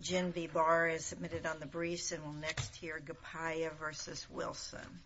Gin V. Barr is submitted on the briefs and we'll next hear Gipaya v. Wilson.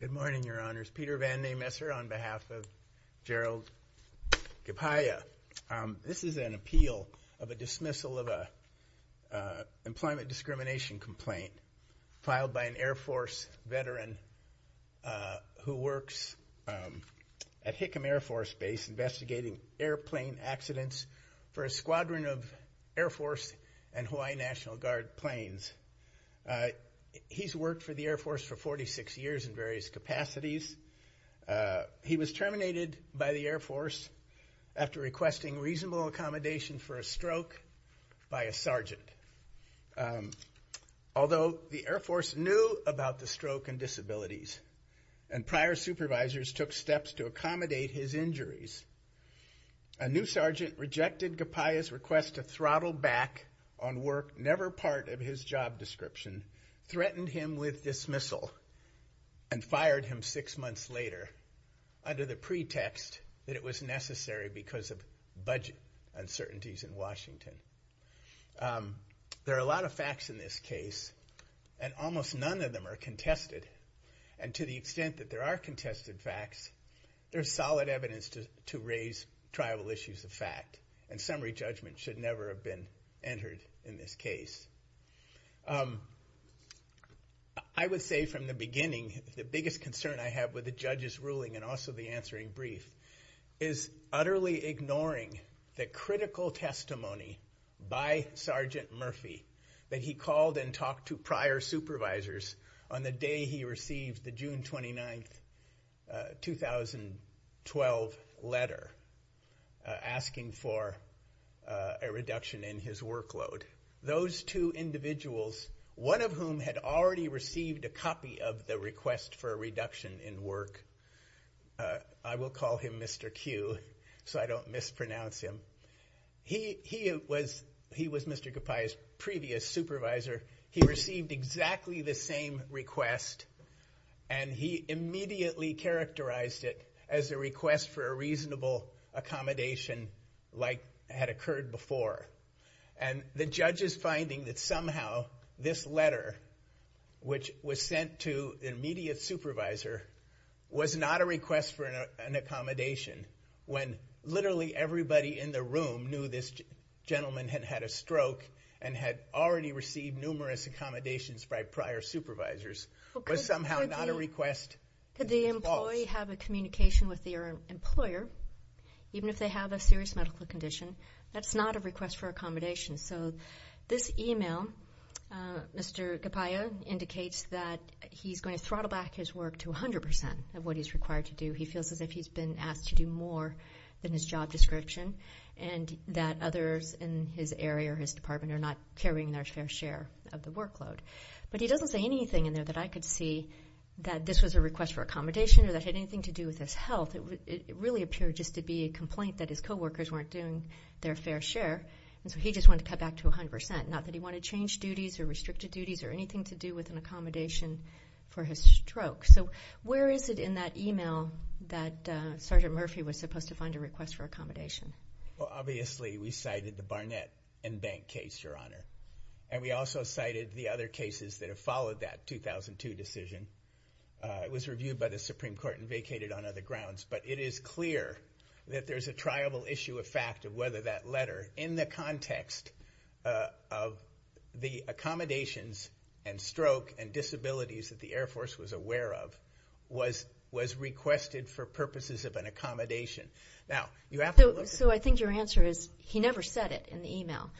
Good morning, Your Honors. Peter Van de Messer on behalf of Gerald Gipaya. This is an appeal of a dismissal of a employment discrimination complaint filed by an Air Force veteran who works at Hickam Air Force Base investigating airplane accidents for a squadron of Air Force and Hawaii National Guard planes. He's worked for the Air Force for 46 years in various capacities. He was terminated by the Air Force after requesting reasonable accommodation for a stroke by a sergeant. Although the Air Force knew about the stroke and disabilities and prior supervisors took steps to accommodate his injuries, a new sergeant rejected Gipaya's request to throttle back on work never part of his job description, threatened him with dismissal, and fired him six months later under the pretext that it was necessary because of budget uncertainties in Washington. There are a lot of facts in this case and almost none of them are contested. And to the extent that there are contested facts, there's solid evidence to raise tribal issues of fact and summary judgment should never have been entered in this case. I would say from the beginning the biggest concern I have with the judge's ruling and also the answering brief is utterly ignoring the critical testimony by Sergeant Murphy that he called and talked to prior supervisors on the day he received the June 29th 2012 letter asking for a reduction in his workload. Those two individuals, one of whom had already received a copy of the request for a reduction in work, I will call him Mr. Q so I don't mispronounce him, he was Mr. Gipaya's previous supervisor, he received exactly the same request and he immediately characterized it as a request for a reasonable accommodation like had occurred before. And the judge is finding that somehow this letter which was sent to the immediate supervisor was not a request for an accommodation when literally everybody in the room knew this gentleman had had a already received numerous accommodations by prior supervisors was somehow not a request. Could the employee have a communication with their employer even if they have a serious medical condition? That's not a request for accommodation. So this email, Mr. Gipaya indicates that he's going to throttle back his work to 100% of what he's required to do. He feels as if he's been asked to do more than his job description and that others in his area or his department are not carrying their fair share of the workload. But he doesn't say anything in there that I could see that this was a request for accommodation or that had anything to do with his health. It really appeared just to be a complaint that his co-workers weren't doing their fair share and so he just wanted to cut back to 100%, not that he wanted to change duties or restricted duties or anything to do with an accommodation for his stroke. So where is it in that email that Sergeant Murphy was supposed to find a request for accommodation? Well, obviously we cited the Barnett and Bank case, Your Honor. And we also cited the other cases that have followed that 2002 decision. It was reviewed by the Supreme Court and vacated on other grounds. But it is clear that there's a triable issue of fact of whether that letter, in the context of the accommodations and stroke and disabilities that the Air Force was aware of, was requested for purposes of an accommodation. So I think your answer is he never said it in the email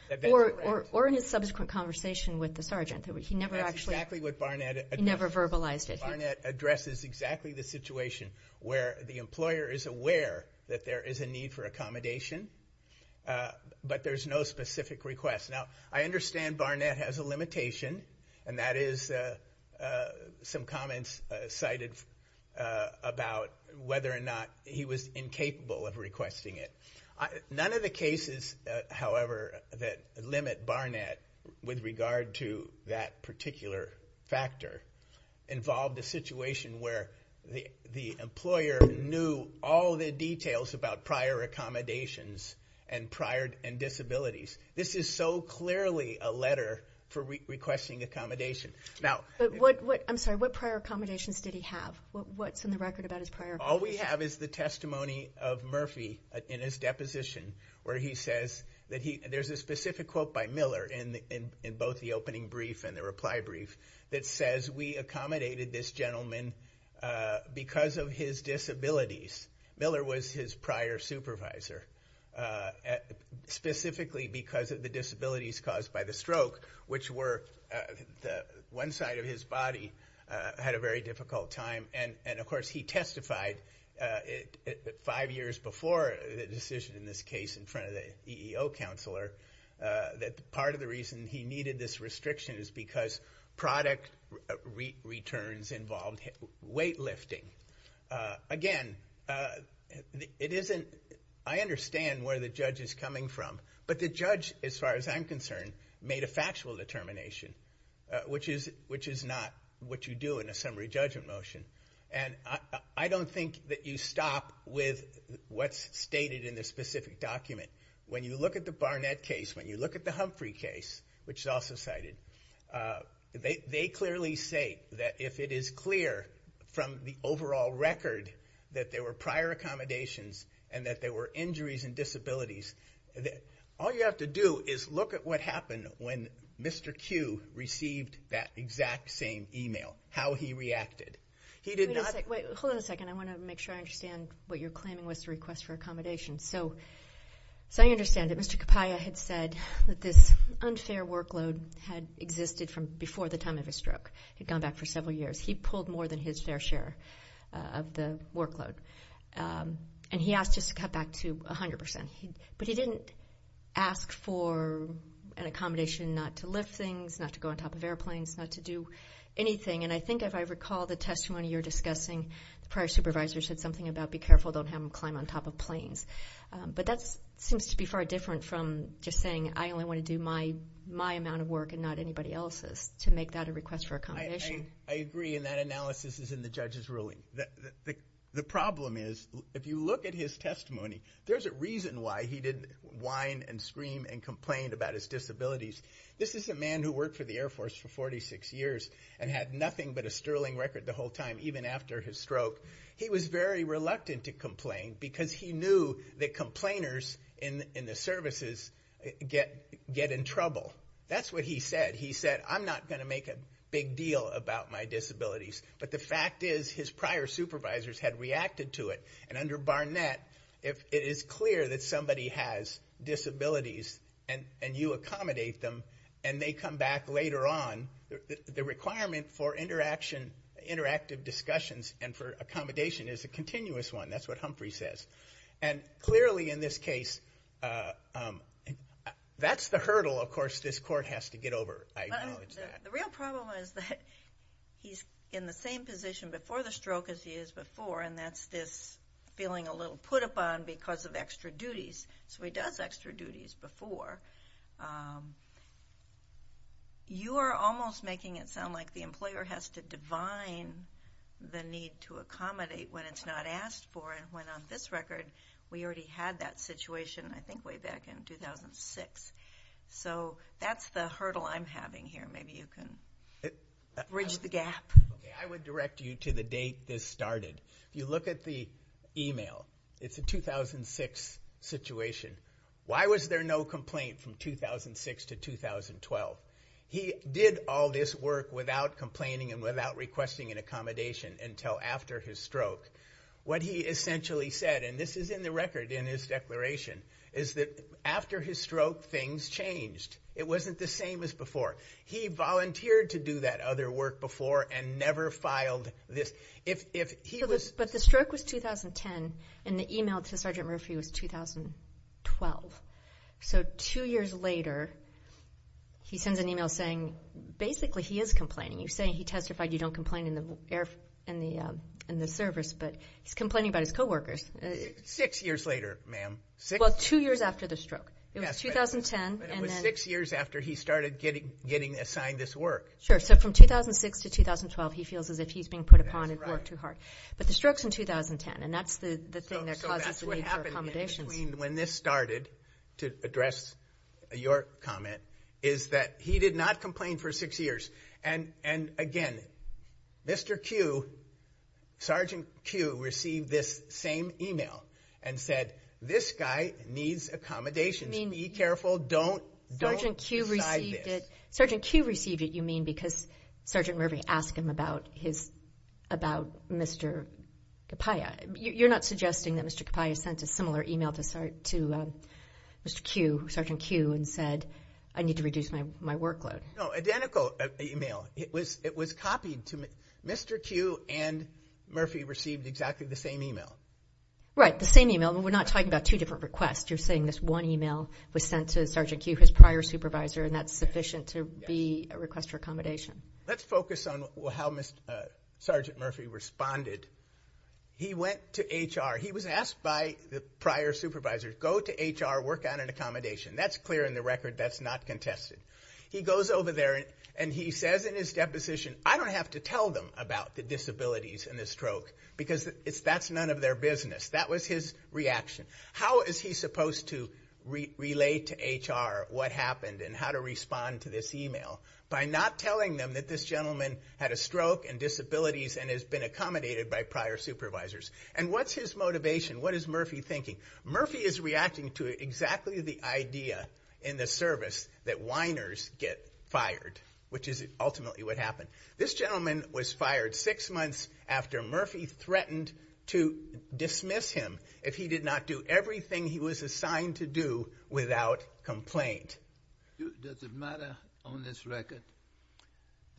or in his subsequent conversation with the sergeant. He never actually verbalized it. Barnett addresses exactly the situation where the employer is aware that there is a need for accommodation, but there's no specific request. Now, I understand Barnett has a limitation and that is some comments cited about whether or not he was incapable of requesting it. None of the cases, however, that limit Barnett with regard to that particular factor involved a situation where the employer knew all the details about prior accommodations and prior disabilities. This is so clearly a letter for requesting accommodation. But what prior accommodations did he have? What's in the record about his prior accommodations? All we have is the testimony of Murphy in his deposition, where he says that he, there's a specific quote by Miller in both the opening brief and the reply brief, that says, we accommodated this gentleman because of his disabilities. Miller was his prior supervisor, specifically because of the five years before the decision in this case in front of the EEO counselor, that part of the reason he needed this restriction is because product returns involved weightlifting. Again, it isn't, I understand where the judge is coming from, but the judge, as far as I'm concerned, made a factual determination, which is not what you do in a summary judgment motion. And I don't think that you stop with what's stated in the specific document. When you look at the Barnett case, when you look at the Humphrey case, which is also cited, they clearly say that if it is clear from the overall record that there were prior accommodations and that there were injuries and disabilities, all you have to do is look at what happened when Mr. Q received that exact same email, how he reacted. He did not- Wait, hold on a second. I want to make sure I understand what you're claiming was the request for accommodation. So I understand that Mr. Kapaya had said that this unfair workload. And he asked us to cut back to 100%. But he didn't ask for an accommodation not to lift things, not to go on top of airplanes, not to do anything. And I think if I recall the testimony you're discussing, the prior supervisor said something about be careful, don't have them climb on top of planes. But that seems to be far different from just saying I only want to do my amount of work and not anybody else's to make that a request for accommodation. I agree. And that analysis is in the judge's ruling. The problem is, if you look at his testimony, there's a reason why he didn't whine and scream and complain about his disabilities. This is a man who worked for the Air Force for 46 years and had nothing but a sterling record the whole time, even after his stroke. He was very reluctant to complain because he knew that complainers in the services get in trouble. That's what he said. I'm not going to make a big deal about my disabilities. But the fact is, his prior supervisors had reacted to it. And under Barnett, if it is clear that somebody has disabilities and you accommodate them, and they come back later on, the requirement for interactive discussions and for accommodation is a continuous one. That's what Humphrey says. And clearly in this case, that's the hurdle, of course, this court has to get over. I acknowledge that. The real problem is that he's in the same position before the stroke as he is before, and that's this feeling a little put upon because of extra duties. So he does extra duties before. You are almost making it sound like the employer has to divine the need to accommodate when it's not asked for, when on this record, we already had that situation, I think, way back in 2006. So that's the hurdle I'm having here. Maybe you can bridge the gap. I would direct you to the date this started. If you look at the email, it's a 2006 situation. Why was there no complaint from 2006 to 2012? He did all this work without complaining and without requesting an accommodation until after his stroke. What he essentially said, and this is in the record in his declaration, is that after his stroke, things changed. It wasn't the same as before. He volunteered to do that other work before and never filed this. But the stroke was 2010, and the email to Sergeant Murphy was 2012. So two years later, he sends an email saying, basically, he is complaining. You say he testified you don't complain in the service, but he's complaining about his co-workers. Six years later, ma'am. Well, two years after the stroke. It was 2010. It was six years after he started getting assigned this work. Sure. So from 2006 to 2012, he feels as if he's being put upon and worked too hard. But the stroke's in 2010, and that's the thing that causes the need for accommodations. Sergeant Q received it. Sergeant Q received it, you mean, because Sergeant Murphy asked him about Mr. Capaia. You're not suggesting that Mr. Capaia sent a similar email to Sergeant Q and said, I need to reduce my workload. No, identical email. It was copied. Mr. Q and Murphy received exactly the same email. Right, the same email. We're not talking about two different requests. You're saying this one email was sent to Sergeant Q, his prior supervisor, and that's sufficient to be a request for accommodation. Let's focus on how Sergeant Murphy responded. He went to HR. He was asked by the prior supervisor, go to HR, work on an accommodation. That's clear in the record. That's not contested. He goes over there and he says in his deposition, I don't have to tell them about the disabilities and the stroke, because that's none of their business. That was his reaction. How is he supposed to relate to HR what happened and how to respond to this email? By not telling them that this gentleman had a stroke and disabilities and has been accommodated by prior supervisors. And what's his motivation? What is Murphy thinking? Murphy is reacting to exactly the idea in the service that whiners get fired, which is ultimately what happened. This gentleman was fired six months after Murphy threatened to dismiss him if he did not do everything he was assigned to do without complaint. Does it matter on this record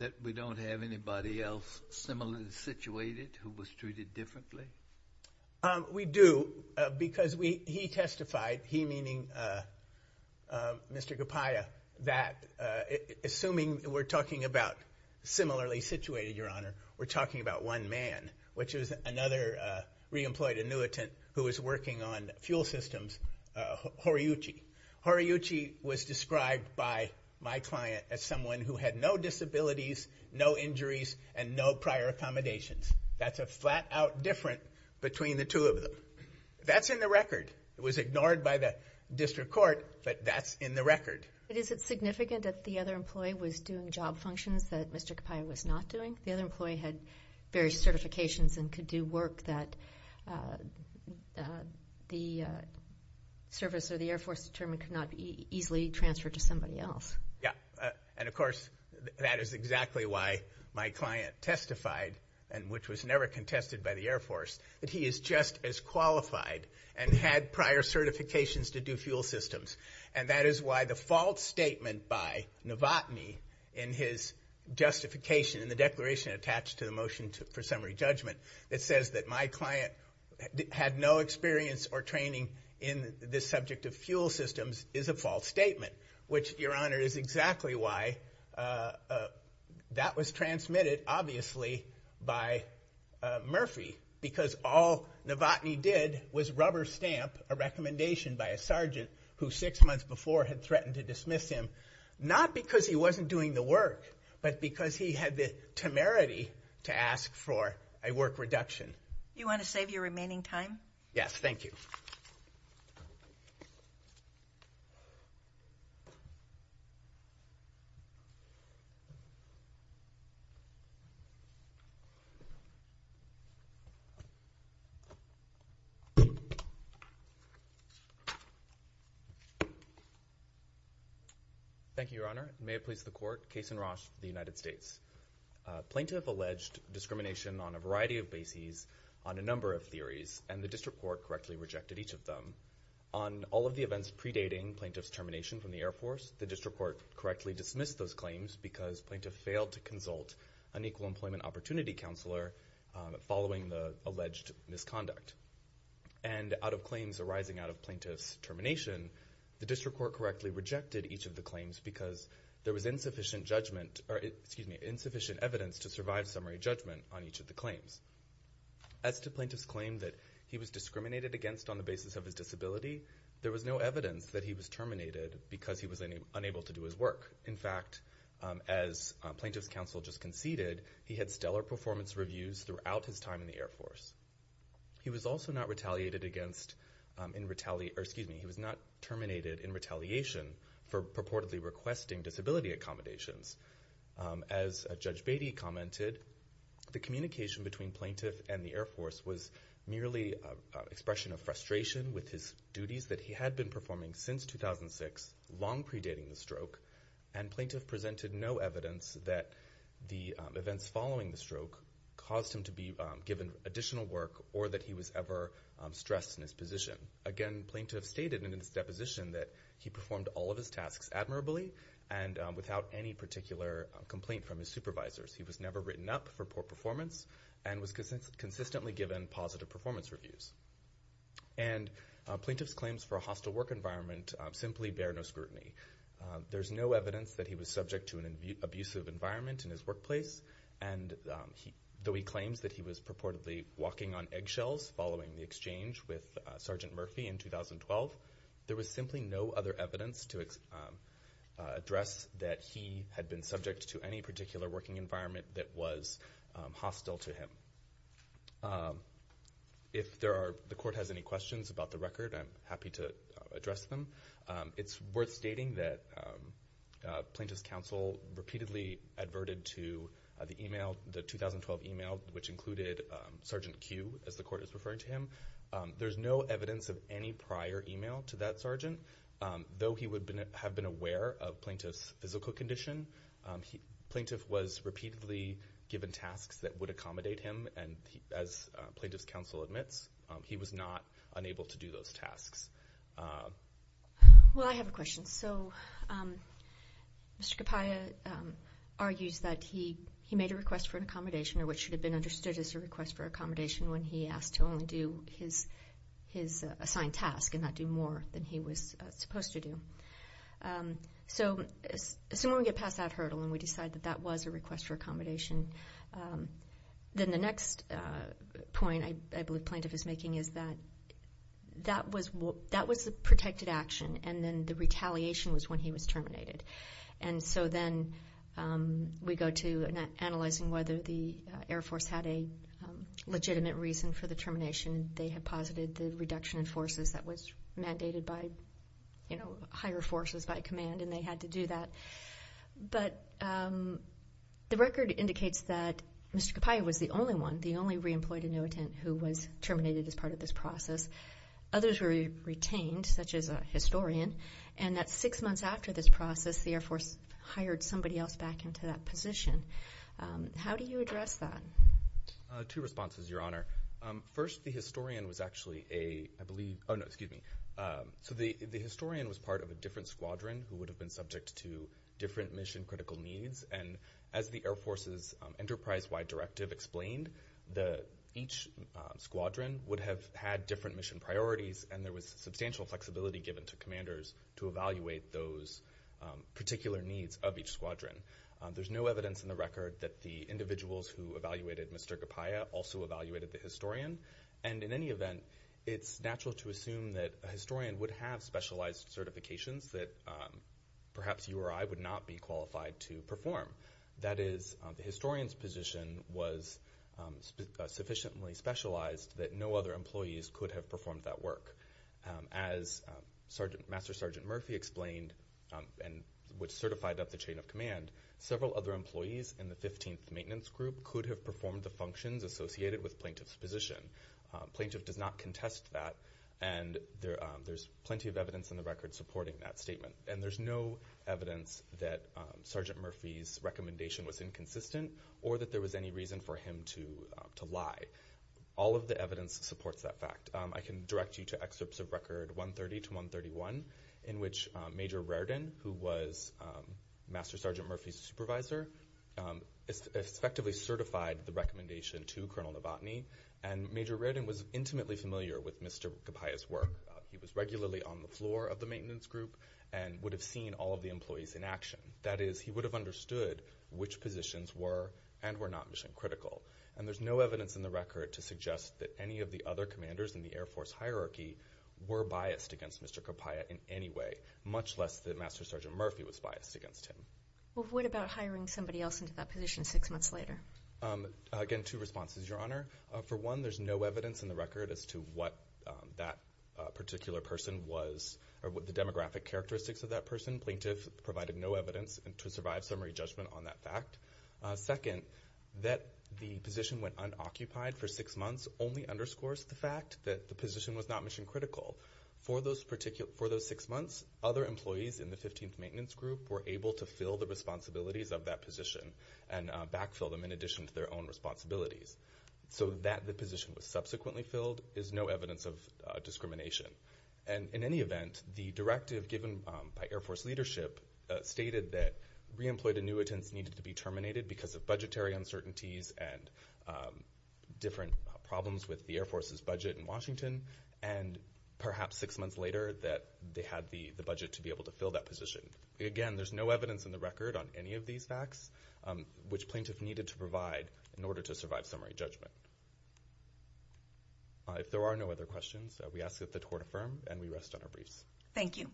that we don't have anybody else similarly situated who was treated differently? We do, because he testified, he meaning Mr. Gapaya, that assuming we're talking about similarly situated, your honor, we're talking about one man, which is another re-employed annuitant who was working on fuel systems, Horiyuchi. Horiyuchi was described by my client as someone who had no disabilities, no injuries, and no prior accommodations. That's a flat out difference between the two of them. That's in the record. It was ignored by the district court, but that's in the record. But is it significant that the other employee was doing job functions that Mr. Gapaya was not doing? The other employee had various certifications and could do work that the service or the Air Force determined could not easily transfer to somebody else. Yeah, and of course, that is exactly why my client testified, which was never contested by the Air Force, that he is just as qualified and had prior certifications to do fuel systems. And that is why the false statement by Novotny in his justification, in the declaration attached to the motion for summary judgment, that says that my client had no experience or training in this subject of fuel systems is a false statement. Which, Your Honor, is exactly why that was transmitted, obviously, by Murphy, because all Novotny did was rubber stamp a recommendation by a sergeant who six months before had threatened to dismiss him, not because he wasn't doing the work, but because he had the temerity to ask for a work reduction. You want to save your remaining time? Yes, thank you. Thank you, Your Honor. May it please the Court, Case in Roche, the United States. Plaintiff alleged discrimination on a variety of bases, on a number of theories, and the District Court correctly rejected each of them. On all of the events predating Plaintiff's termination from the Air Force, the District Court correctly dismissed those claims because Plaintiff failed to consult an Equal Employment Opportunity Counselor following the alleged misconduct. And out of claims arising out of Plaintiff's termination, the District Court correctly rejected each of the claims because there was insufficient evidence to survive summary judgment on each of the claims. As to Plaintiff's claim that he was discriminated against on the basis of his disability, there was no evidence that he was terminated because he was unable to do his work. In fact, as Plaintiff's counsel just conceded, he had stellar performance reviews throughout his time in the Air Force. He was also not terminated in retaliation for purportedly requesting disability accommodations. As Judge Beatty commented, the communication between Plaintiff and the Air Force was merely an expression of frustration with his duties that he had been performing since 2006, long predating the stroke. And Plaintiff presented no evidence that the events following the stroke caused him to be given additional work or that he was ever stressed in his position. Again, Plaintiff stated in his deposition that he performed all of his tasks admirably and without any particular complaint from his supervisors. He was never written up for poor performance and was consistently given positive performance reviews. And Plaintiff's claims for a hostile work environment simply bear no scrutiny. There's no evidence that he was subject to an abusive environment in his workplace. And though he claims that he was purportedly walking on eggshells following the exchange with Sergeant Murphy in 2012, there was simply no other evidence to address that he had been subject to any particular working environment that was hostile to him. If the court has any questions about the record, I'm happy to address them. It's worth stating that Plaintiff's counsel repeatedly adverted to the 2012 email which included Sergeant Q, as the court is referring to him. There's no evidence of any prior email to that sergeant. Though he would have been aware of Plaintiff's physical condition, Plaintiff was repeatedly given tasks that would accommodate him. And as Plaintiff's counsel admits, he was not unable to do those tasks. Well, I have a question. So Mr. Capaia argues that he made a request for an accommodation or what should have been understood as a request for accommodation when he asked to only do his assigned task and not do more than he was supposed to do. So assuming we get past that hurdle and we decide that that was a request for accommodation, then the next point I believe Plaintiff is making is that that was the protected action and then the retaliation was when he was terminated. And so then we go to analyzing whether the Air Force had a legitimate reason for the termination. They had posited the reduction in forces that was mandated by higher forces by command and they had to do that. But the record indicates that Mr. Capaia was the only one, the only re-employed annuitant who was terminated as part of this process. Others were retained, such as a historian, and that six months after this process, the Air Force hired somebody else back into that position. How do you address that? Two responses, Your Honor. First, the historian was actually a, I believe, oh no, excuse me. So the historian was part of a different squadron who would have been subject to different mission critical needs and as the Air Force's enterprise-wide directive explained, each squadron would have had different mission priorities and there was substantial flexibility given to commanders to evaluate those particular needs of each squadron. There's no evidence in the record that the individuals who evaluated Mr. Capaia also evaluated the historian. And in any event, it's natural to assume that a historian would have specialized certifications that perhaps you or I would not be qualified to perform. That is, the historian's position was sufficiently specialized that no other employees could have performed that work. As Master Sergeant Murphy explained and was certified at the chain of command, several other employees in the 15th Maintenance Group could have performed the functions associated with plaintiff's position. Plaintiff does not contest that and there's plenty of evidence in the record supporting that statement. And there's no evidence that Sergeant Murphy's recommendation was inconsistent or that there was any reason for him to lie. All of the evidence supports that fact. And I can direct you to excerpts of Record 130 to 131 in which Major Rairdon, who was Master Sergeant Murphy's supervisor, effectively certified the recommendation to Colonel Novotny. And Major Rairdon was intimately familiar with Mr. Capaia's work. He was regularly on the floor of the Maintenance Group and would have seen all of the employees in action. That is, he would have understood which positions were and were not mission critical. And there's no evidence in the record to suggest that any of the other commanders in the Air Force hierarchy were biased against Mr. Capaia in any way, much less that Master Sergeant Murphy was biased against him. Well, what about hiring somebody else into that position six months later? Again, two responses, Your Honor. For one, there's no evidence in the record as to what that particular person was or what the demographic characteristics of that person. Plaintiff provided no evidence to survive summary judgment on that fact. Second, that the position went unoccupied for six months only underscores the fact that the position was not mission critical. For those six months, other employees in the 15th Maintenance Group were able to fill the responsibilities of that position and backfill them in addition to their own responsibilities. So that the position was subsequently filled is no evidence of discrimination. And in any event, the directive given by Air Force leadership stated that re-employed annuitants needed to be terminated because of budgetary uncertainties and different problems with the Air Force's budget in Washington, and perhaps six months later that they had the budget to be able to fill that position. Again, there's no evidence in the record on any of these facts, which plaintiff needed to provide in order to survive summary judgment. If there are no other questions, we ask that the court affirm and we rest on our briefs. Thank you.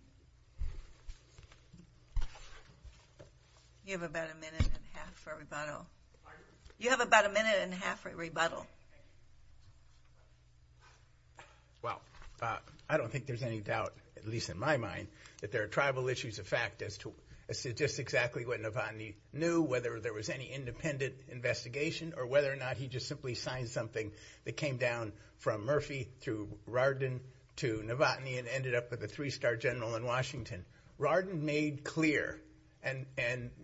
You have about a minute and a half for a rebuttal. You have about a minute and a half for a rebuttal. Well, I don't think there's any doubt, at least in my mind, that there are tribal issues of fact as to just exactly what Navani knew, whether there was any independent investigation, or whether or not he just simply signed something that came down from Murphy through Rardin to Navani and ended up with a three-star general in Washington. Rardin made clear, and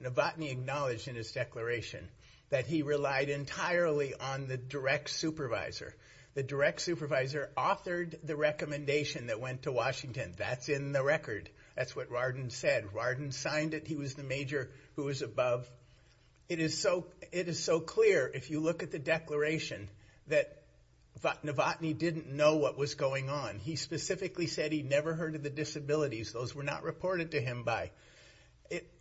Navani acknowledged in his declaration, that he relied entirely on the direct supervisor. The direct supervisor authored the recommendation that went to Washington. That's in the record. That's what Rardin said. Rardin signed it. He was the major who was above. It is so clear, if you look at the declaration, that Navani didn't know what was going on. He specifically said he never heard of the disabilities. Those were not reported to him by...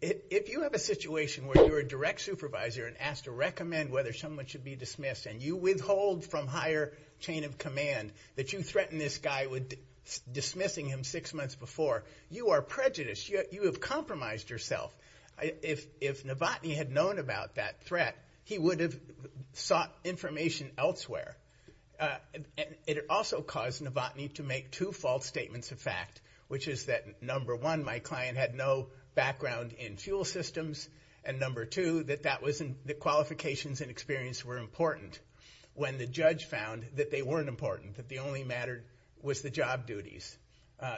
If you have a situation where you're a direct supervisor and asked to recommend whether someone should be dismissed, and you withhold from higher chain of command that you threaten this guy with dismissing him six months before, you are prejudiced. You have compromised yourself. If Navani had known about that threat, he would have sought information elsewhere. It also caused Navani to make two false statements of fact, which is that, number one, my client had no background in fuel systems, and number two, that the qualifications and experience were important when the judge found that they weren't important, that the only matter was the job duties.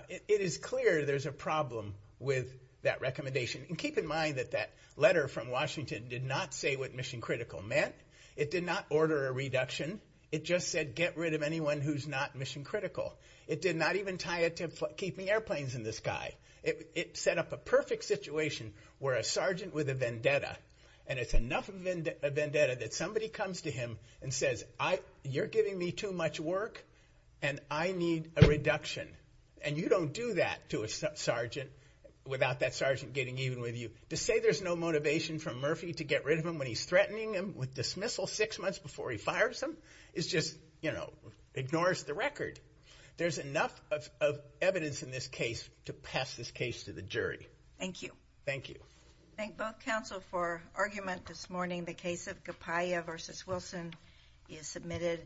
It is clear there's a problem with that recommendation. And keep in mind that that letter from Washington did not say what mission critical meant. It did not order a reduction. It just said get rid of anyone who's not mission critical. It did not even tie it to keeping airplanes in the sky. It set up a perfect situation where a sergeant with a vendetta, and it's enough of a vendetta that somebody comes to him and says, you're giving me too much work, and I need a reduction. And you don't do that to a sergeant without that sergeant getting even with you. To say there's no motivation from Murphy to get rid of him when he's threatening him with dismissal six months before he fires him is just, you know, ignores the record. There's enough of evidence in this case to pass this case to the jury. Thank you. Thank you. Thank both counsel for argument this morning. The case of Gapaya v. Wilson is submitted.